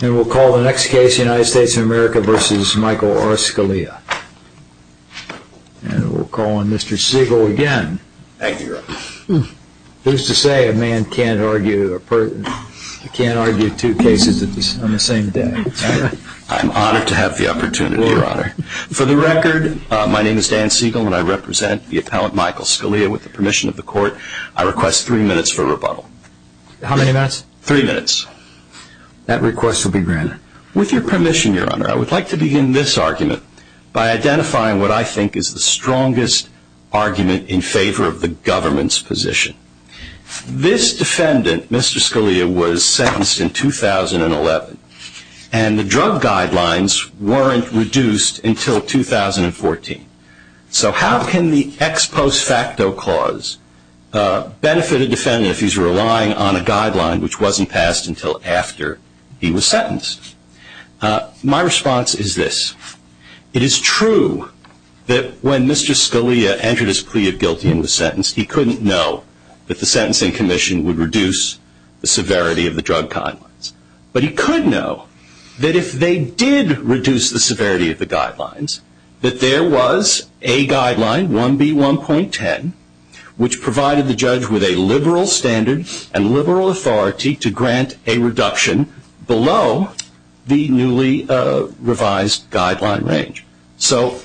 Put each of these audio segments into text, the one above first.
And we'll call the next case United States of America v. Michael R. Scalia. And we'll call on Mr. Siegel again. Thank you, Your Honor. Who's to say a man can't argue two cases on the same day? I'm honored to have the opportunity, Your Honor. For the record, my name is Dan Siegel and I represent the appellant Michael Scalia with the permission of the court. I request three minutes for rebuttal. How many minutes? Three minutes. That request will be granted. With your permission, Your Honor, I would like to begin this argument by identifying what I think is the strongest argument in favor of the government's position. This defendant, Mr. Scalia, was sentenced in 2011 and the drug guidelines weren't reduced until 2014. So how can the ex post facto clause benefit a defendant if he's relying on a guideline which wasn't passed until after he was sentenced? My response is this. It is true that when Mr. Scalia entered his plea of guilty and was sentenced, he couldn't know that the sentencing commission would reduce the severity of the drug guidelines. But he could know that if they did reduce the severity of the guidelines, that there was a guideline, 1B1.10, which provided the judge with a liberal standard and liberal authority to grant a reduction below the newly revised guideline range. So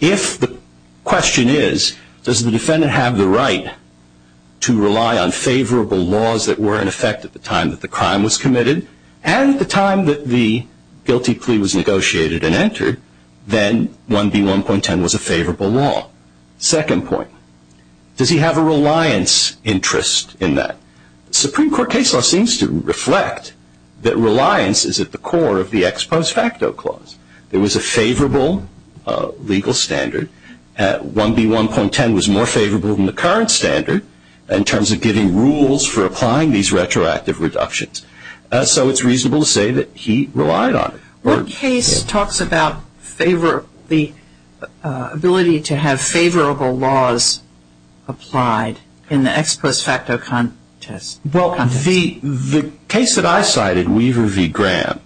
if the question is, does the defendant have the right to rely on favorable laws that were in effect at the time that the crime was committed and at the time that the guilty plea was negotiated and entered, then 1B1.10 was a favorable law. Second point, does he have a reliance interest in that? The Supreme Court case law seems to reflect that reliance is at the core of the ex post facto clause. There was a favorable legal standard. 1B1.10 was more favorable than the current standard in terms of giving rules for applying these retroactive reductions. So it's reasonable to say that he relied on it. What case talks about the ability to have favorable laws applied in the ex post facto context? The case that I cited, Weaver v. Graham,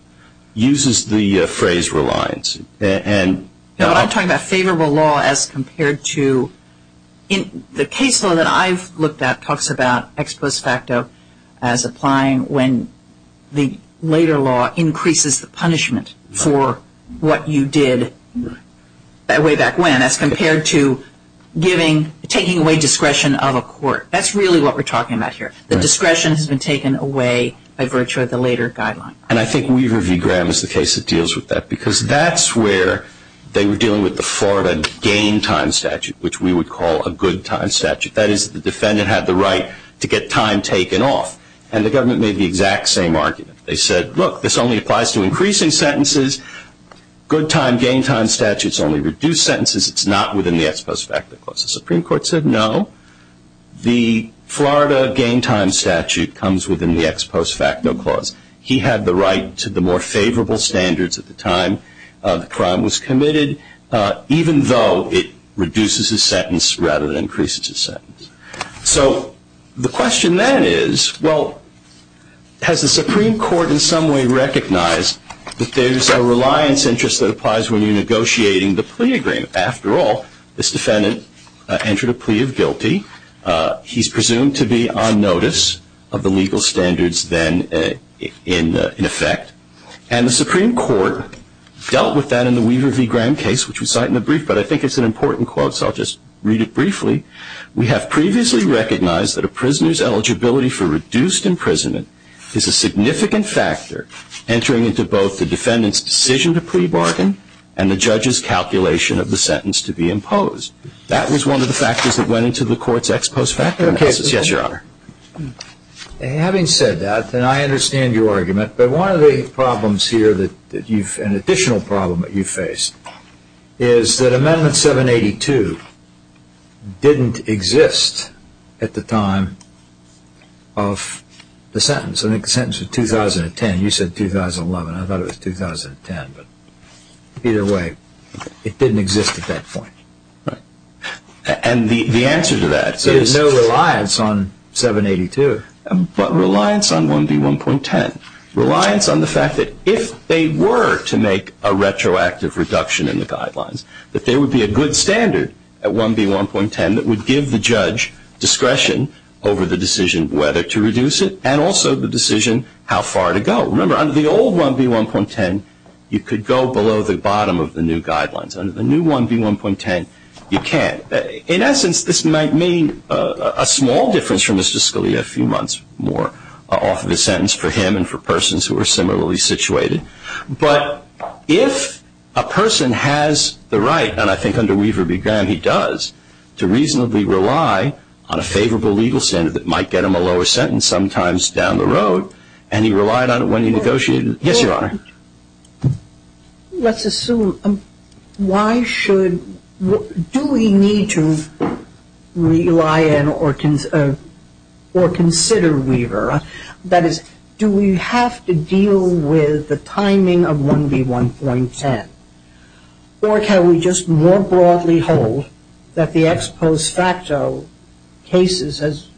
uses the phrase reliance. I'm talking about favorable law as compared to... The case law that I've looked at talks about ex post facto as applying when the later law increases the punishment for what you did way back when as compared to taking away discretion of a court. That's really what we're talking about here. The discretion has been taken away by virtue of the later guideline. And I think Weaver v. Graham is the case that deals with that because that's where they were dealing with the Florida gain time statute, which we would call a good time statute. That is, the defendant had the right to get time taken off. And the government made the exact same argument. They said, look, this only applies to increasing sentences. Good time, gain time statutes only reduce sentences. It's not within the ex post facto clause. The Supreme Court said no. The Florida gain time statute comes within the ex post facto clause. He had the right to the more favorable standards at the time the crime was committed, even though it reduces his sentence rather than increases his sentence. So the question then is, well, has the Supreme Court in some way recognized that there's a reliance interest that applies when you're negotiating the plea agreement? After all, this defendant entered a plea of guilty. He's presumed to be on notice of the legal standards then in effect. And the Supreme Court dealt with that in the Weaver v. Graham case, which we cite in the brief, but I think it's an important quote, so I'll just read it briefly. We have previously recognized that a prisoner's eligibility for reduced imprisonment is a significant factor entering into both the defendant's decision to plea bargain and the judge's calculation of the sentence to be imposed. That was one of the factors that went into the court's ex post facto analysis. Yes, Your Honor. Having said that, and I understand your argument, but one of the problems here that you've, an additional problem that you face is that Amendment 782 didn't exist at the time of the sentence. I think the sentence was 2010. You said 2011. I thought it was 2010, but either way, it didn't exist at that point. And the answer to that is no reliance on 782, but reliance on 1B1.10, reliance on the fact that if they were to make a retroactive reduction in the guidelines, that there would be a good standard at 1B1.10 that would give the judge discretion over the decision whether to reduce it and also the decision how far to go. Remember, under the old 1B1.10, you could go below the bottom of the new guidelines. Under the new 1B1.10, you can't. In essence, this might mean a small difference for Mr. Scalia, a few months more off of his sentence for him and for persons who are similarly situated. But if a person has the right, and I think under Weaver v. Graham he does, to reasonably rely on a favorable legal standard that might get him a lower sentence sometimes down the road, and he relied on it when he negotiated it. Yes, Your Honor. Let's assume, why should, do we need to rely on or consider Weaver? That is, do we have to deal with the timing of 1B1.10? Or can we just more broadly hold that the ex post facto cases,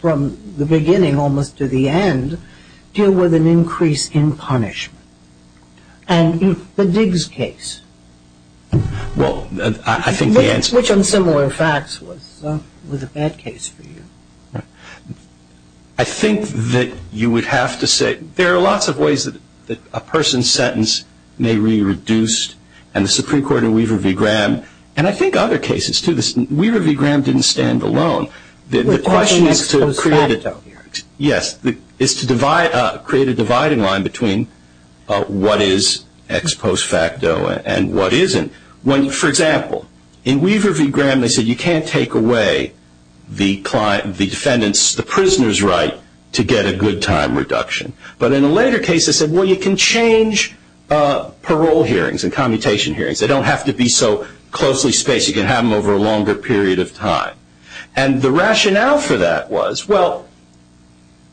from the beginning almost to the end, deal with an increase in punishment? And the Diggs case. Well, I think the answer is. Which, on similar facts, was a bad case for you. I think that you would have to say, there are lots of ways that a person's sentence may be reduced. And the Supreme Court in Weaver v. Graham, and I think other cases too. Weaver v. Graham didn't stand alone. The question is to create a dividing line between what is ex post facto and what isn't. For example, in Weaver v. Graham they said you can't take away the defendant's, the prisoner's right to get a good time reduction. But in a later case they said, well, you can change parole hearings and commutation hearings. They don't have to be so closely spaced. You can have them over a longer period of time. And the rationale for that was, well,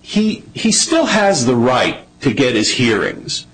he still has the right to get his hearings.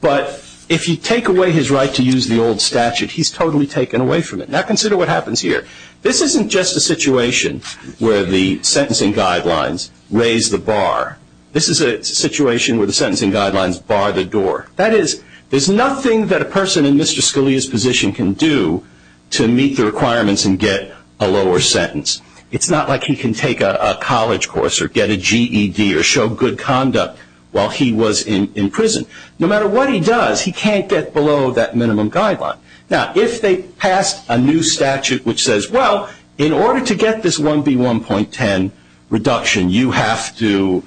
But if you take away his right to use the old statute, he's totally taken away from it. Now consider what happens here. This isn't just a situation where the sentencing guidelines raise the bar. This is a situation where the sentencing guidelines bar the door. That is, there's nothing that a person in Mr. Scalia's position can do to meet the requirements and get a lower sentence. It's not like he can take a college course or get a GED or show good conduct while he was in prison. No matter what he does, he can't get below that minimum guideline. Now, if they pass a new statute which says, well, in order to get this 1B1.10 reduction, you have to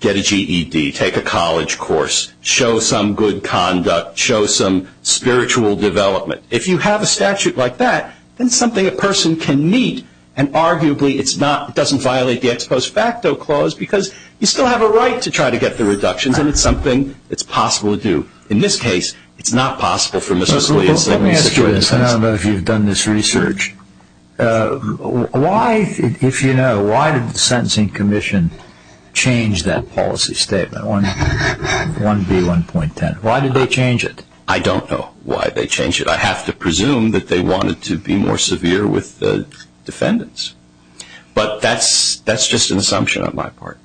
get a GED, take a college course, show some good conduct, show some spiritual development. If you have a statute like that, then it's something a person can meet, and arguably it doesn't violate the ex post facto clause because you still have a right to try to get the reductions, and it's something that's possible to do. In this case, it's not possible for Mr. Scalia. Let me ask you this. I don't know if you've done this research. If you know, why did the Sentencing Commission change that policy statement, 1B1.10? Why did they change it? I don't know why they changed it. I have to presume that they wanted to be more severe with the defendants. But that's just an assumption on my part.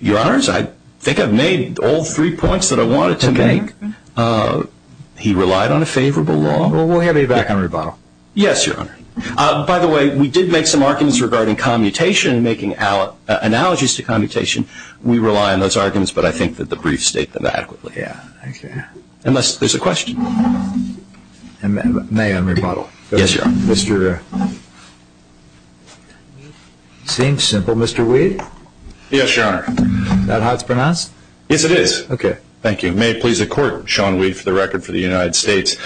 Your Honors, I think I've made all three points that I wanted to make. He relied on a favorable law. Well, we'll have you back on rebuttal. Yes, Your Honor. By the way, we did make some arguments regarding commutation and making analogies to commutation. We rely on those arguments, but I think that the briefs state them adequately. Yeah, okay. Unless there's a question. May I rebuttal? Yes, Your Honor. Seems simple. Mr. Weed? Yes, Your Honor. Is that how it's pronounced? Yes, it is. Okay. Thank you. May it please the Court, Sean Weed for the record for the United States.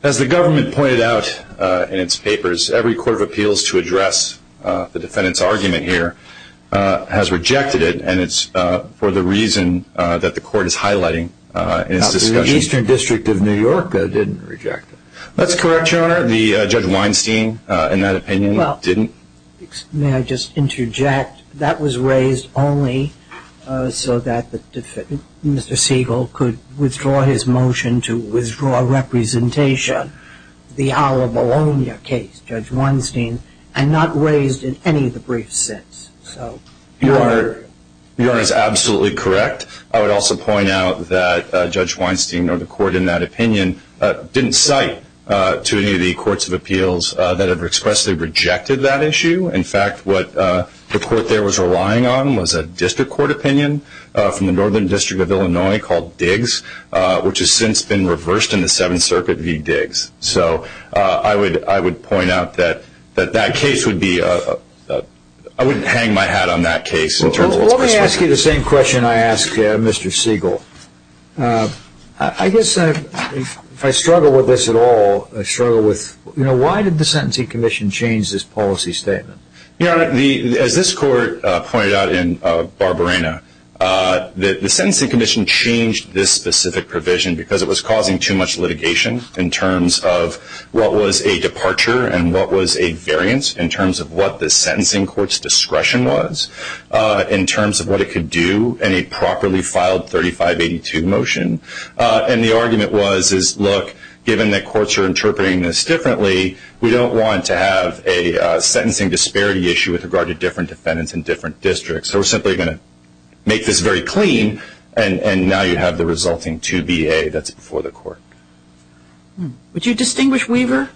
As the government pointed out in its papers, every court of appeals to address the defendant's argument here has rejected it, and it's for the reason that the Court is highlighting in its discussion. The Eastern District of New York didn't reject it. That's correct, Your Honor. Judge Weinstein, in that opinion, didn't. May I just interject? That was raised only so that Mr. Siegel could withdraw his motion to withdraw representation. The Alla Bologna case, Judge Weinstein, and not raised in any of the briefs since. Your Honor is absolutely correct. I would also point out that Judge Weinstein or the Court in that opinion didn't cite to any of the courts of appeals that have expressly rejected that issue. In fact, what the Court there was relying on was a district court opinion from the Northern District of Illinois called Diggs, which has since been reversed in the Seventh Circuit v. Diggs. So I would point out that that case would be a – I wouldn't hang my hat on that case. Well, let me ask you the same question I asked Mr. Siegel. I guess if I struggle with this at all, I struggle with, you know, why did the Sentencing Commission change this policy statement? Your Honor, as this Court pointed out in Barbarena, the Sentencing Commission changed this specific provision because it was causing too much litigation in terms of what was a departure and what was a variance in terms of what the sentencing court's discretion was, in terms of what it could do in a properly filed 3582 motion. And the argument was, look, given that courts are interpreting this differently, we don't want to have a sentencing disparity issue with regard to different defendants in different districts. So we're simply going to make this very clean, and now you have the resulting 2BA that's before the Court. Would you distinguish Weaver?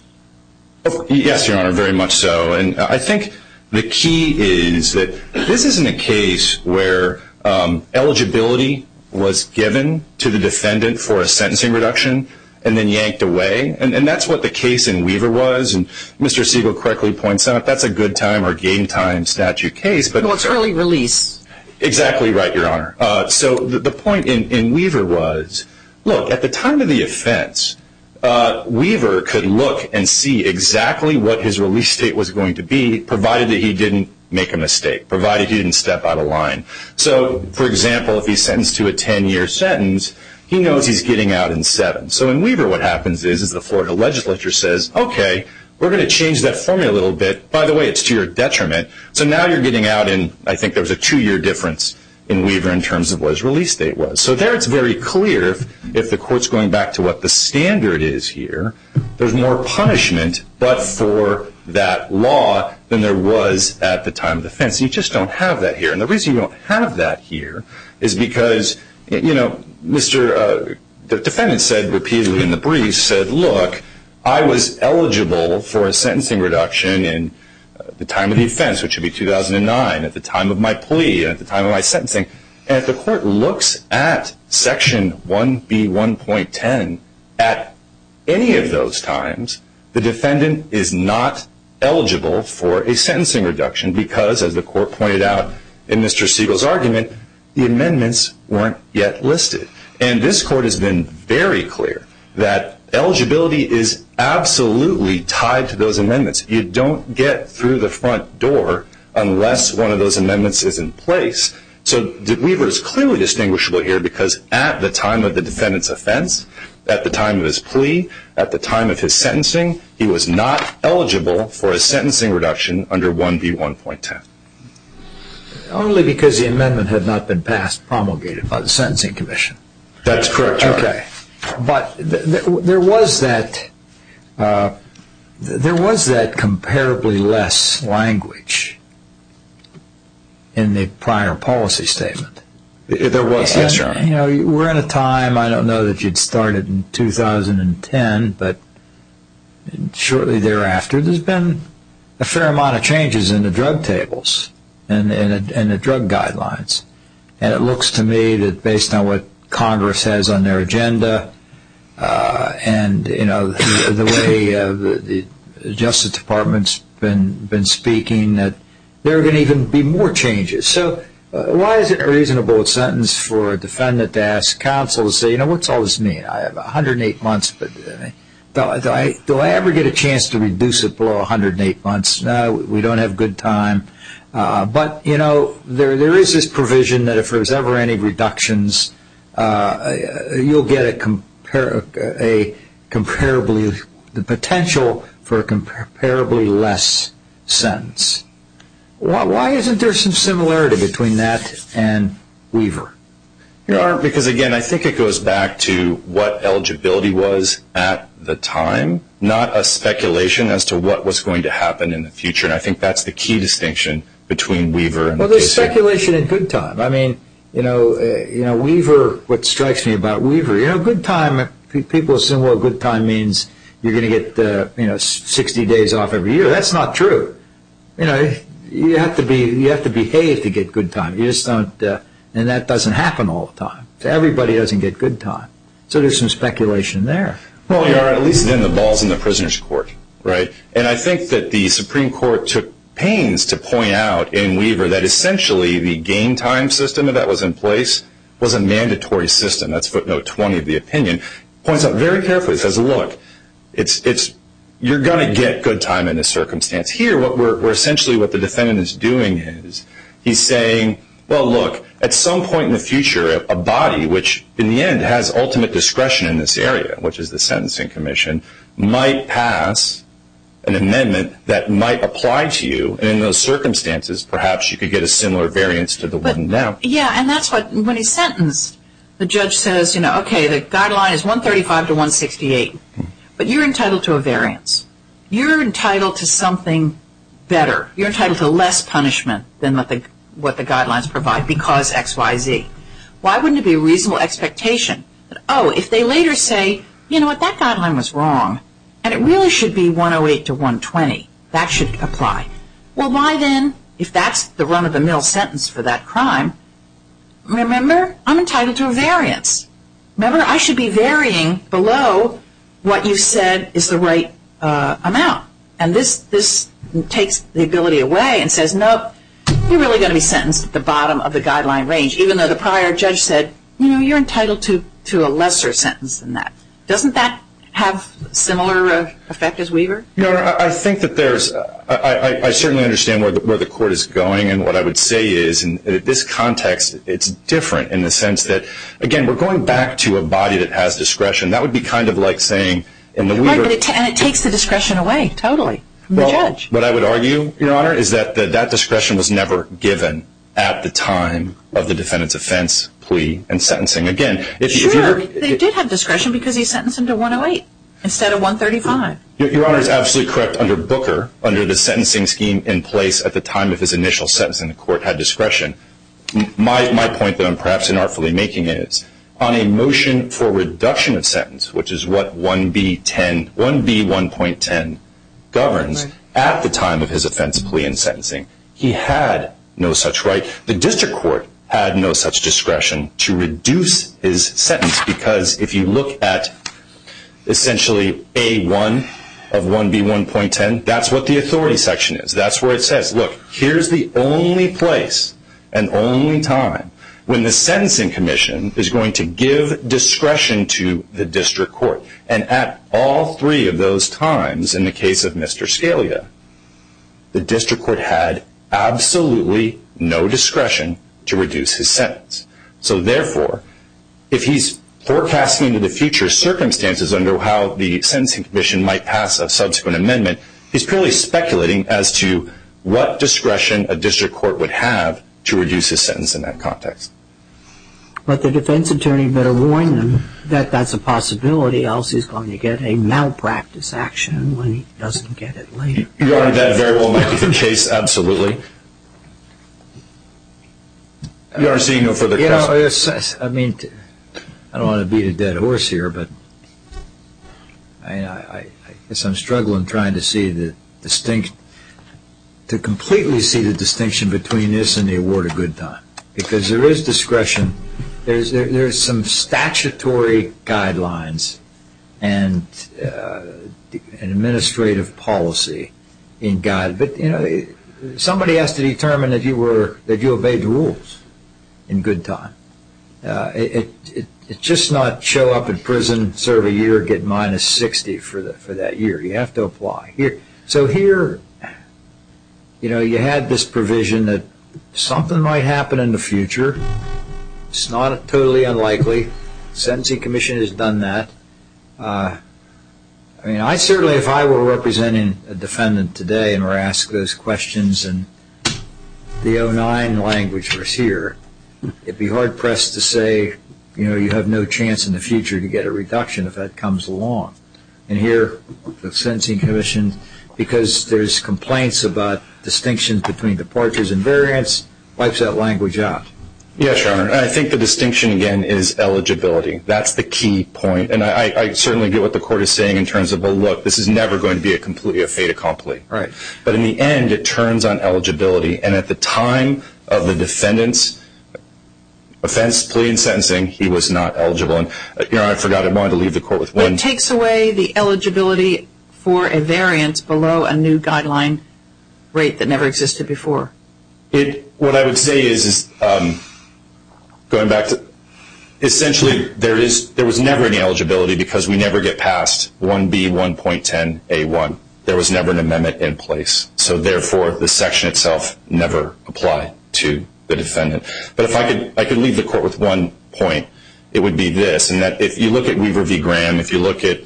Yes, Your Honor, very much so. And I think the key is that this isn't a case where eligibility was given to the defendant for a sentencing reduction and then yanked away, and that's what the case in Weaver was. And Mr. Siegel correctly points out that's a good-time or game-time statute case. Well, it's early release. Exactly right, Your Honor. So the point in Weaver was, look, at the time of the offense, Weaver could look and see exactly what his release date was going to be, provided that he didn't make a mistake, provided he didn't step out of line. So, for example, if he's sentenced to a 10-year sentence, he knows he's getting out in seven. So in Weaver, what happens is the Florida legislature says, okay, we're going to change that formula a little bit. By the way, it's to your detriment. So now you're getting out in, I think there was a two-year difference in Weaver in terms of what his release date was. So there it's very clear, if the Court's going back to what the standard is here, there's more punishment, but for that law, than there was at the time of the offense. You just don't have that here. And the reason you don't have that here is because, you know, the defendant said repeatedly in the brief, said, look, I was eligible for a sentencing reduction in the time of the offense, which would be 2009, at the time of my plea, at the time of my sentencing. And if the Court looks at Section 1B1.10, at any of those times, the defendant is not eligible for a sentencing reduction because, as the Court pointed out in Mr. Siegel's argument, the amendments weren't yet listed. And this Court has been very clear that eligibility is absolutely tied to those amendments. You don't get through the front door unless one of those amendments is in place. So Weaver is clearly distinguishable here because at the time of the defendant's offense, at the time of his plea, at the time of his sentencing, he was not eligible for a sentencing reduction under 1B1.10. Only because the amendment had not been passed promulgated by the Sentencing Commission. That's correct, Your Honor. Okay. But there was that comparably less language in the prior policy statement. There was, yes, Your Honor. You know, we're in a time, I don't know that you'd start it in 2010, but shortly thereafter, there's been a fair amount of changes in the drug tables and the drug guidelines. And it looks to me that based on what Congress has on their agenda and, you know, the way the Justice Department's been speaking, that there are going to even be more changes. So why is it a reasonable sentence for a defendant to ask counsel to say, you know, what's all this mean? I have 108 months, but do I ever get a chance to reduce it below 108 months? No, we don't have good time. But, you know, there is this provision that if there's ever any reductions, you'll get a comparably, the potential for a comparably less sentence. Why isn't there some similarity between that and Weaver? Your Honor, because, again, I think it goes back to what eligibility was at the time, not a speculation as to what was going to happen in the future. And I think that's the key distinction between Weaver. Well, there's speculation in good time. I mean, you know, Weaver, what strikes me about Weaver, you know, good time, people assume, well, good time means you're going to get, you know, 60 days off every year. That's not true. You know, you have to behave to get good time. And that doesn't happen all the time. Everybody doesn't get good time. So there's some speculation there. Well, Your Honor, at least then the ball's in the prisoner's court, right? And I think that the Supreme Court took pains to point out in Weaver that essentially the game time system that was in place was a mandatory system. That's footnote 20 of the opinion. Points out very carefully, says, look, you're going to get good time in this circumstance. Here, essentially what the defendant is doing is he's saying, well, look, at some point in the future a body, which in the end has ultimate discretion in this area, which is the Sentencing Commission, might pass an amendment that might apply to you, and in those circumstances perhaps you could get a similar variance to the one now. Yeah, and that's what, when he's sentenced, the judge says, you know, okay, the guideline is 135 to 168, but you're entitled to a variance. You're entitled to something better. You're entitled to less punishment than what the guidelines provide because X, Y, Z. Why wouldn't it be a reasonable expectation that, oh, if they later say, you know what, that guideline was wrong and it really should be 108 to 120. That should apply. Well, why then, if that's the run-of-the-mill sentence for that crime, remember, I'm entitled to a variance. Remember, I should be varying below what you said is the right amount, and this takes the ability away and says, no, you're really going to be sentenced at the bottom of the guideline range, even though the prior judge said, you know, you're entitled to a lesser sentence than that. Doesn't that have a similar effect as Weaver? No, I think that there's – I certainly understand where the court is going and what I would say is in this context it's different in the sense that, again, we're going back to a body that has discretion. That would be kind of like saying in the Weaver – Right, and it takes the discretion away totally from the judge. Well, what I would argue, Your Honor, is that that discretion was never given at the time of the defendant's offense, plea, and sentencing. Again, if you – Sure, they did have discretion because he sentenced them to 108 instead of 135. Your Honor is absolutely correct. Under Booker, under the sentencing scheme in place at the time of his initial sentencing, the court had discretion. My point that I'm perhaps inartfully making is on a motion for reduction of sentence, which is what 1B1.10 governs, at the time of his offense, plea, and sentencing, he had no such right. The district court had no such discretion to reduce his sentence because if you look at essentially A1 of 1B1.10, that's what the authority section is. That's where it says, look, here's the only place and only time when the sentencing commission is going to give discretion to the district court. And at all three of those times in the case of Mr. Scalia, the district court had absolutely no discretion to reduce his sentence. So, therefore, if he's forecasting into the future circumstances under how the sentencing commission might pass a subsequent amendment, he's purely speculating as to what discretion a district court would have to reduce his sentence in that context. But the defense attorney better warn them that that's a possibility else he's going to get a malpractice action when he doesn't get it later. Your Honor, that very well might be the case, absolutely. I don't want to beat a dead horse here, but I guess I'm struggling trying to see the distinct, to completely see the distinction between this and the award of good time. Because there is discretion. There's some statutory guidelines and administrative policy in guide. Somebody has to determine that you obeyed the rules in good time. It's just not show up in prison, serve a year, get minus 60 for that year. You have to apply. So here you had this provision that something might happen in the future. It's not totally unlikely. The sentencing commission has done that. I mean, I certainly, if I were representing a defendant today and were asked those questions and the 09 language was here, it would be hard pressed to say you have no chance in the future to get a reduction if that comes along. And here the sentencing commission, because there's complaints about distinction between departures and variance, wipes that language out. Yes, Your Honor. I think the distinction again is eligibility. That's the key point. And I certainly get what the court is saying in terms of, well, look, this is never going to be completely a fait accompli. Right. But in the end, it turns on eligibility. And at the time of the defendant's offense, plea, and sentencing, he was not eligible. Your Honor, I forgot. I wanted to leave the court with one. It takes away the eligibility for a variance below a new guideline rate that never existed before. What I would say is, essentially, there was never any eligibility because we never get past 1B1.10A1. There was never an amendment in place. So, therefore, the section itself never applied to the defendant. But if I could leave the court with one point, it would be this, in that if you look at Weaver v. Graham, if you look at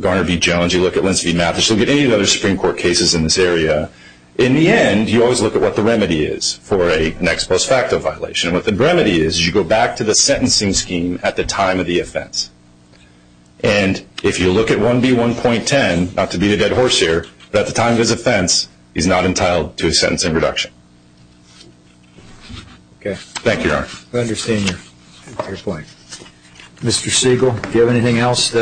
Garner v. Jones, you look at Lenz v. Mathis, you look at any of the other Supreme Court cases in this area, in the end, you always look at what the remedy is for a next post facto violation. And what the remedy is, is you go back to the sentencing scheme at the time of the offense. And if you look at 1B1.10, not to beat a dead horse here, but at the time of his offense, he's not entitled to a sentencing reduction. Okay. Thank you, Your Honor. I understand your point. Mr. Siegel, do you have anything else?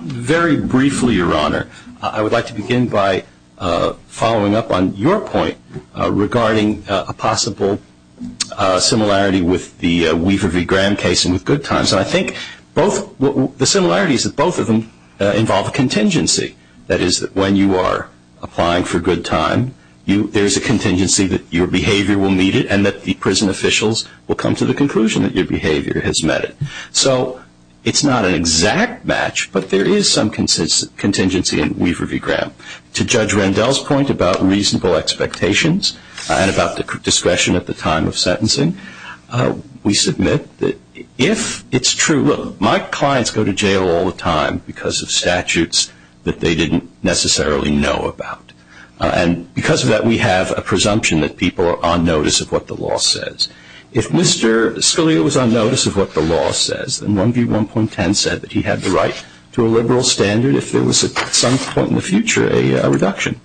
Very briefly, Your Honor, I would like to begin by following up on your point regarding a possible similarity with the Weaver v. Graham case and with Goodtimes. And I think the similarities of both of them involve a contingency. That is, when you are applying for Goodtime, there is a contingency that your behavior will meet it and that the prison officials will come to the conclusion that your behavior has met it. So it's not an exact match, but there is some contingency in Weaver v. Graham. To Judge Rendell's point about reasonable expectations and about the discretion at the time of sentencing, we submit that if it's true. Look, my clients go to jail all the time because of statutes that they didn't necessarily know about. And because of that, we have a presumption that people are on notice of what the law says. If Mr. Scalia was on notice of what the law says, then 1 v. 1.10 said that he had the right to a liberal standard if there was at some point in the future a reduction.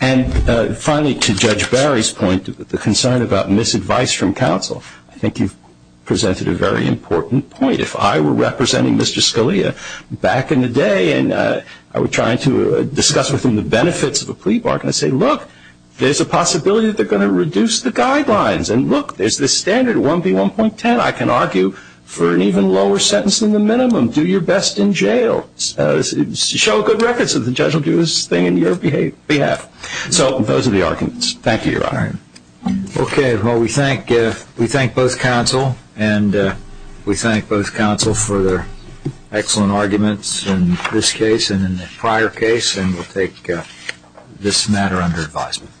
And finally, to Judge Barry's point, the concern about misadvice from counsel, I think you've presented a very important point. If I were representing Mr. Scalia back in the day and I were trying to discuss with him the benefits of a plea bargain, I'd say, look, there's a possibility that they're going to reduce the guidelines. And look, there's this standard 1 v. 1.10. I can argue for an even lower sentence than the minimum. Do your best in jail. Show good records and the judge will do his thing on your behalf. So those are the arguments. Thank you, Your Honor. Okay. Well, we thank both counsel, and we thank both counsel for their excellent arguments in this case and in the prior case, and we'll take this matter under advisement.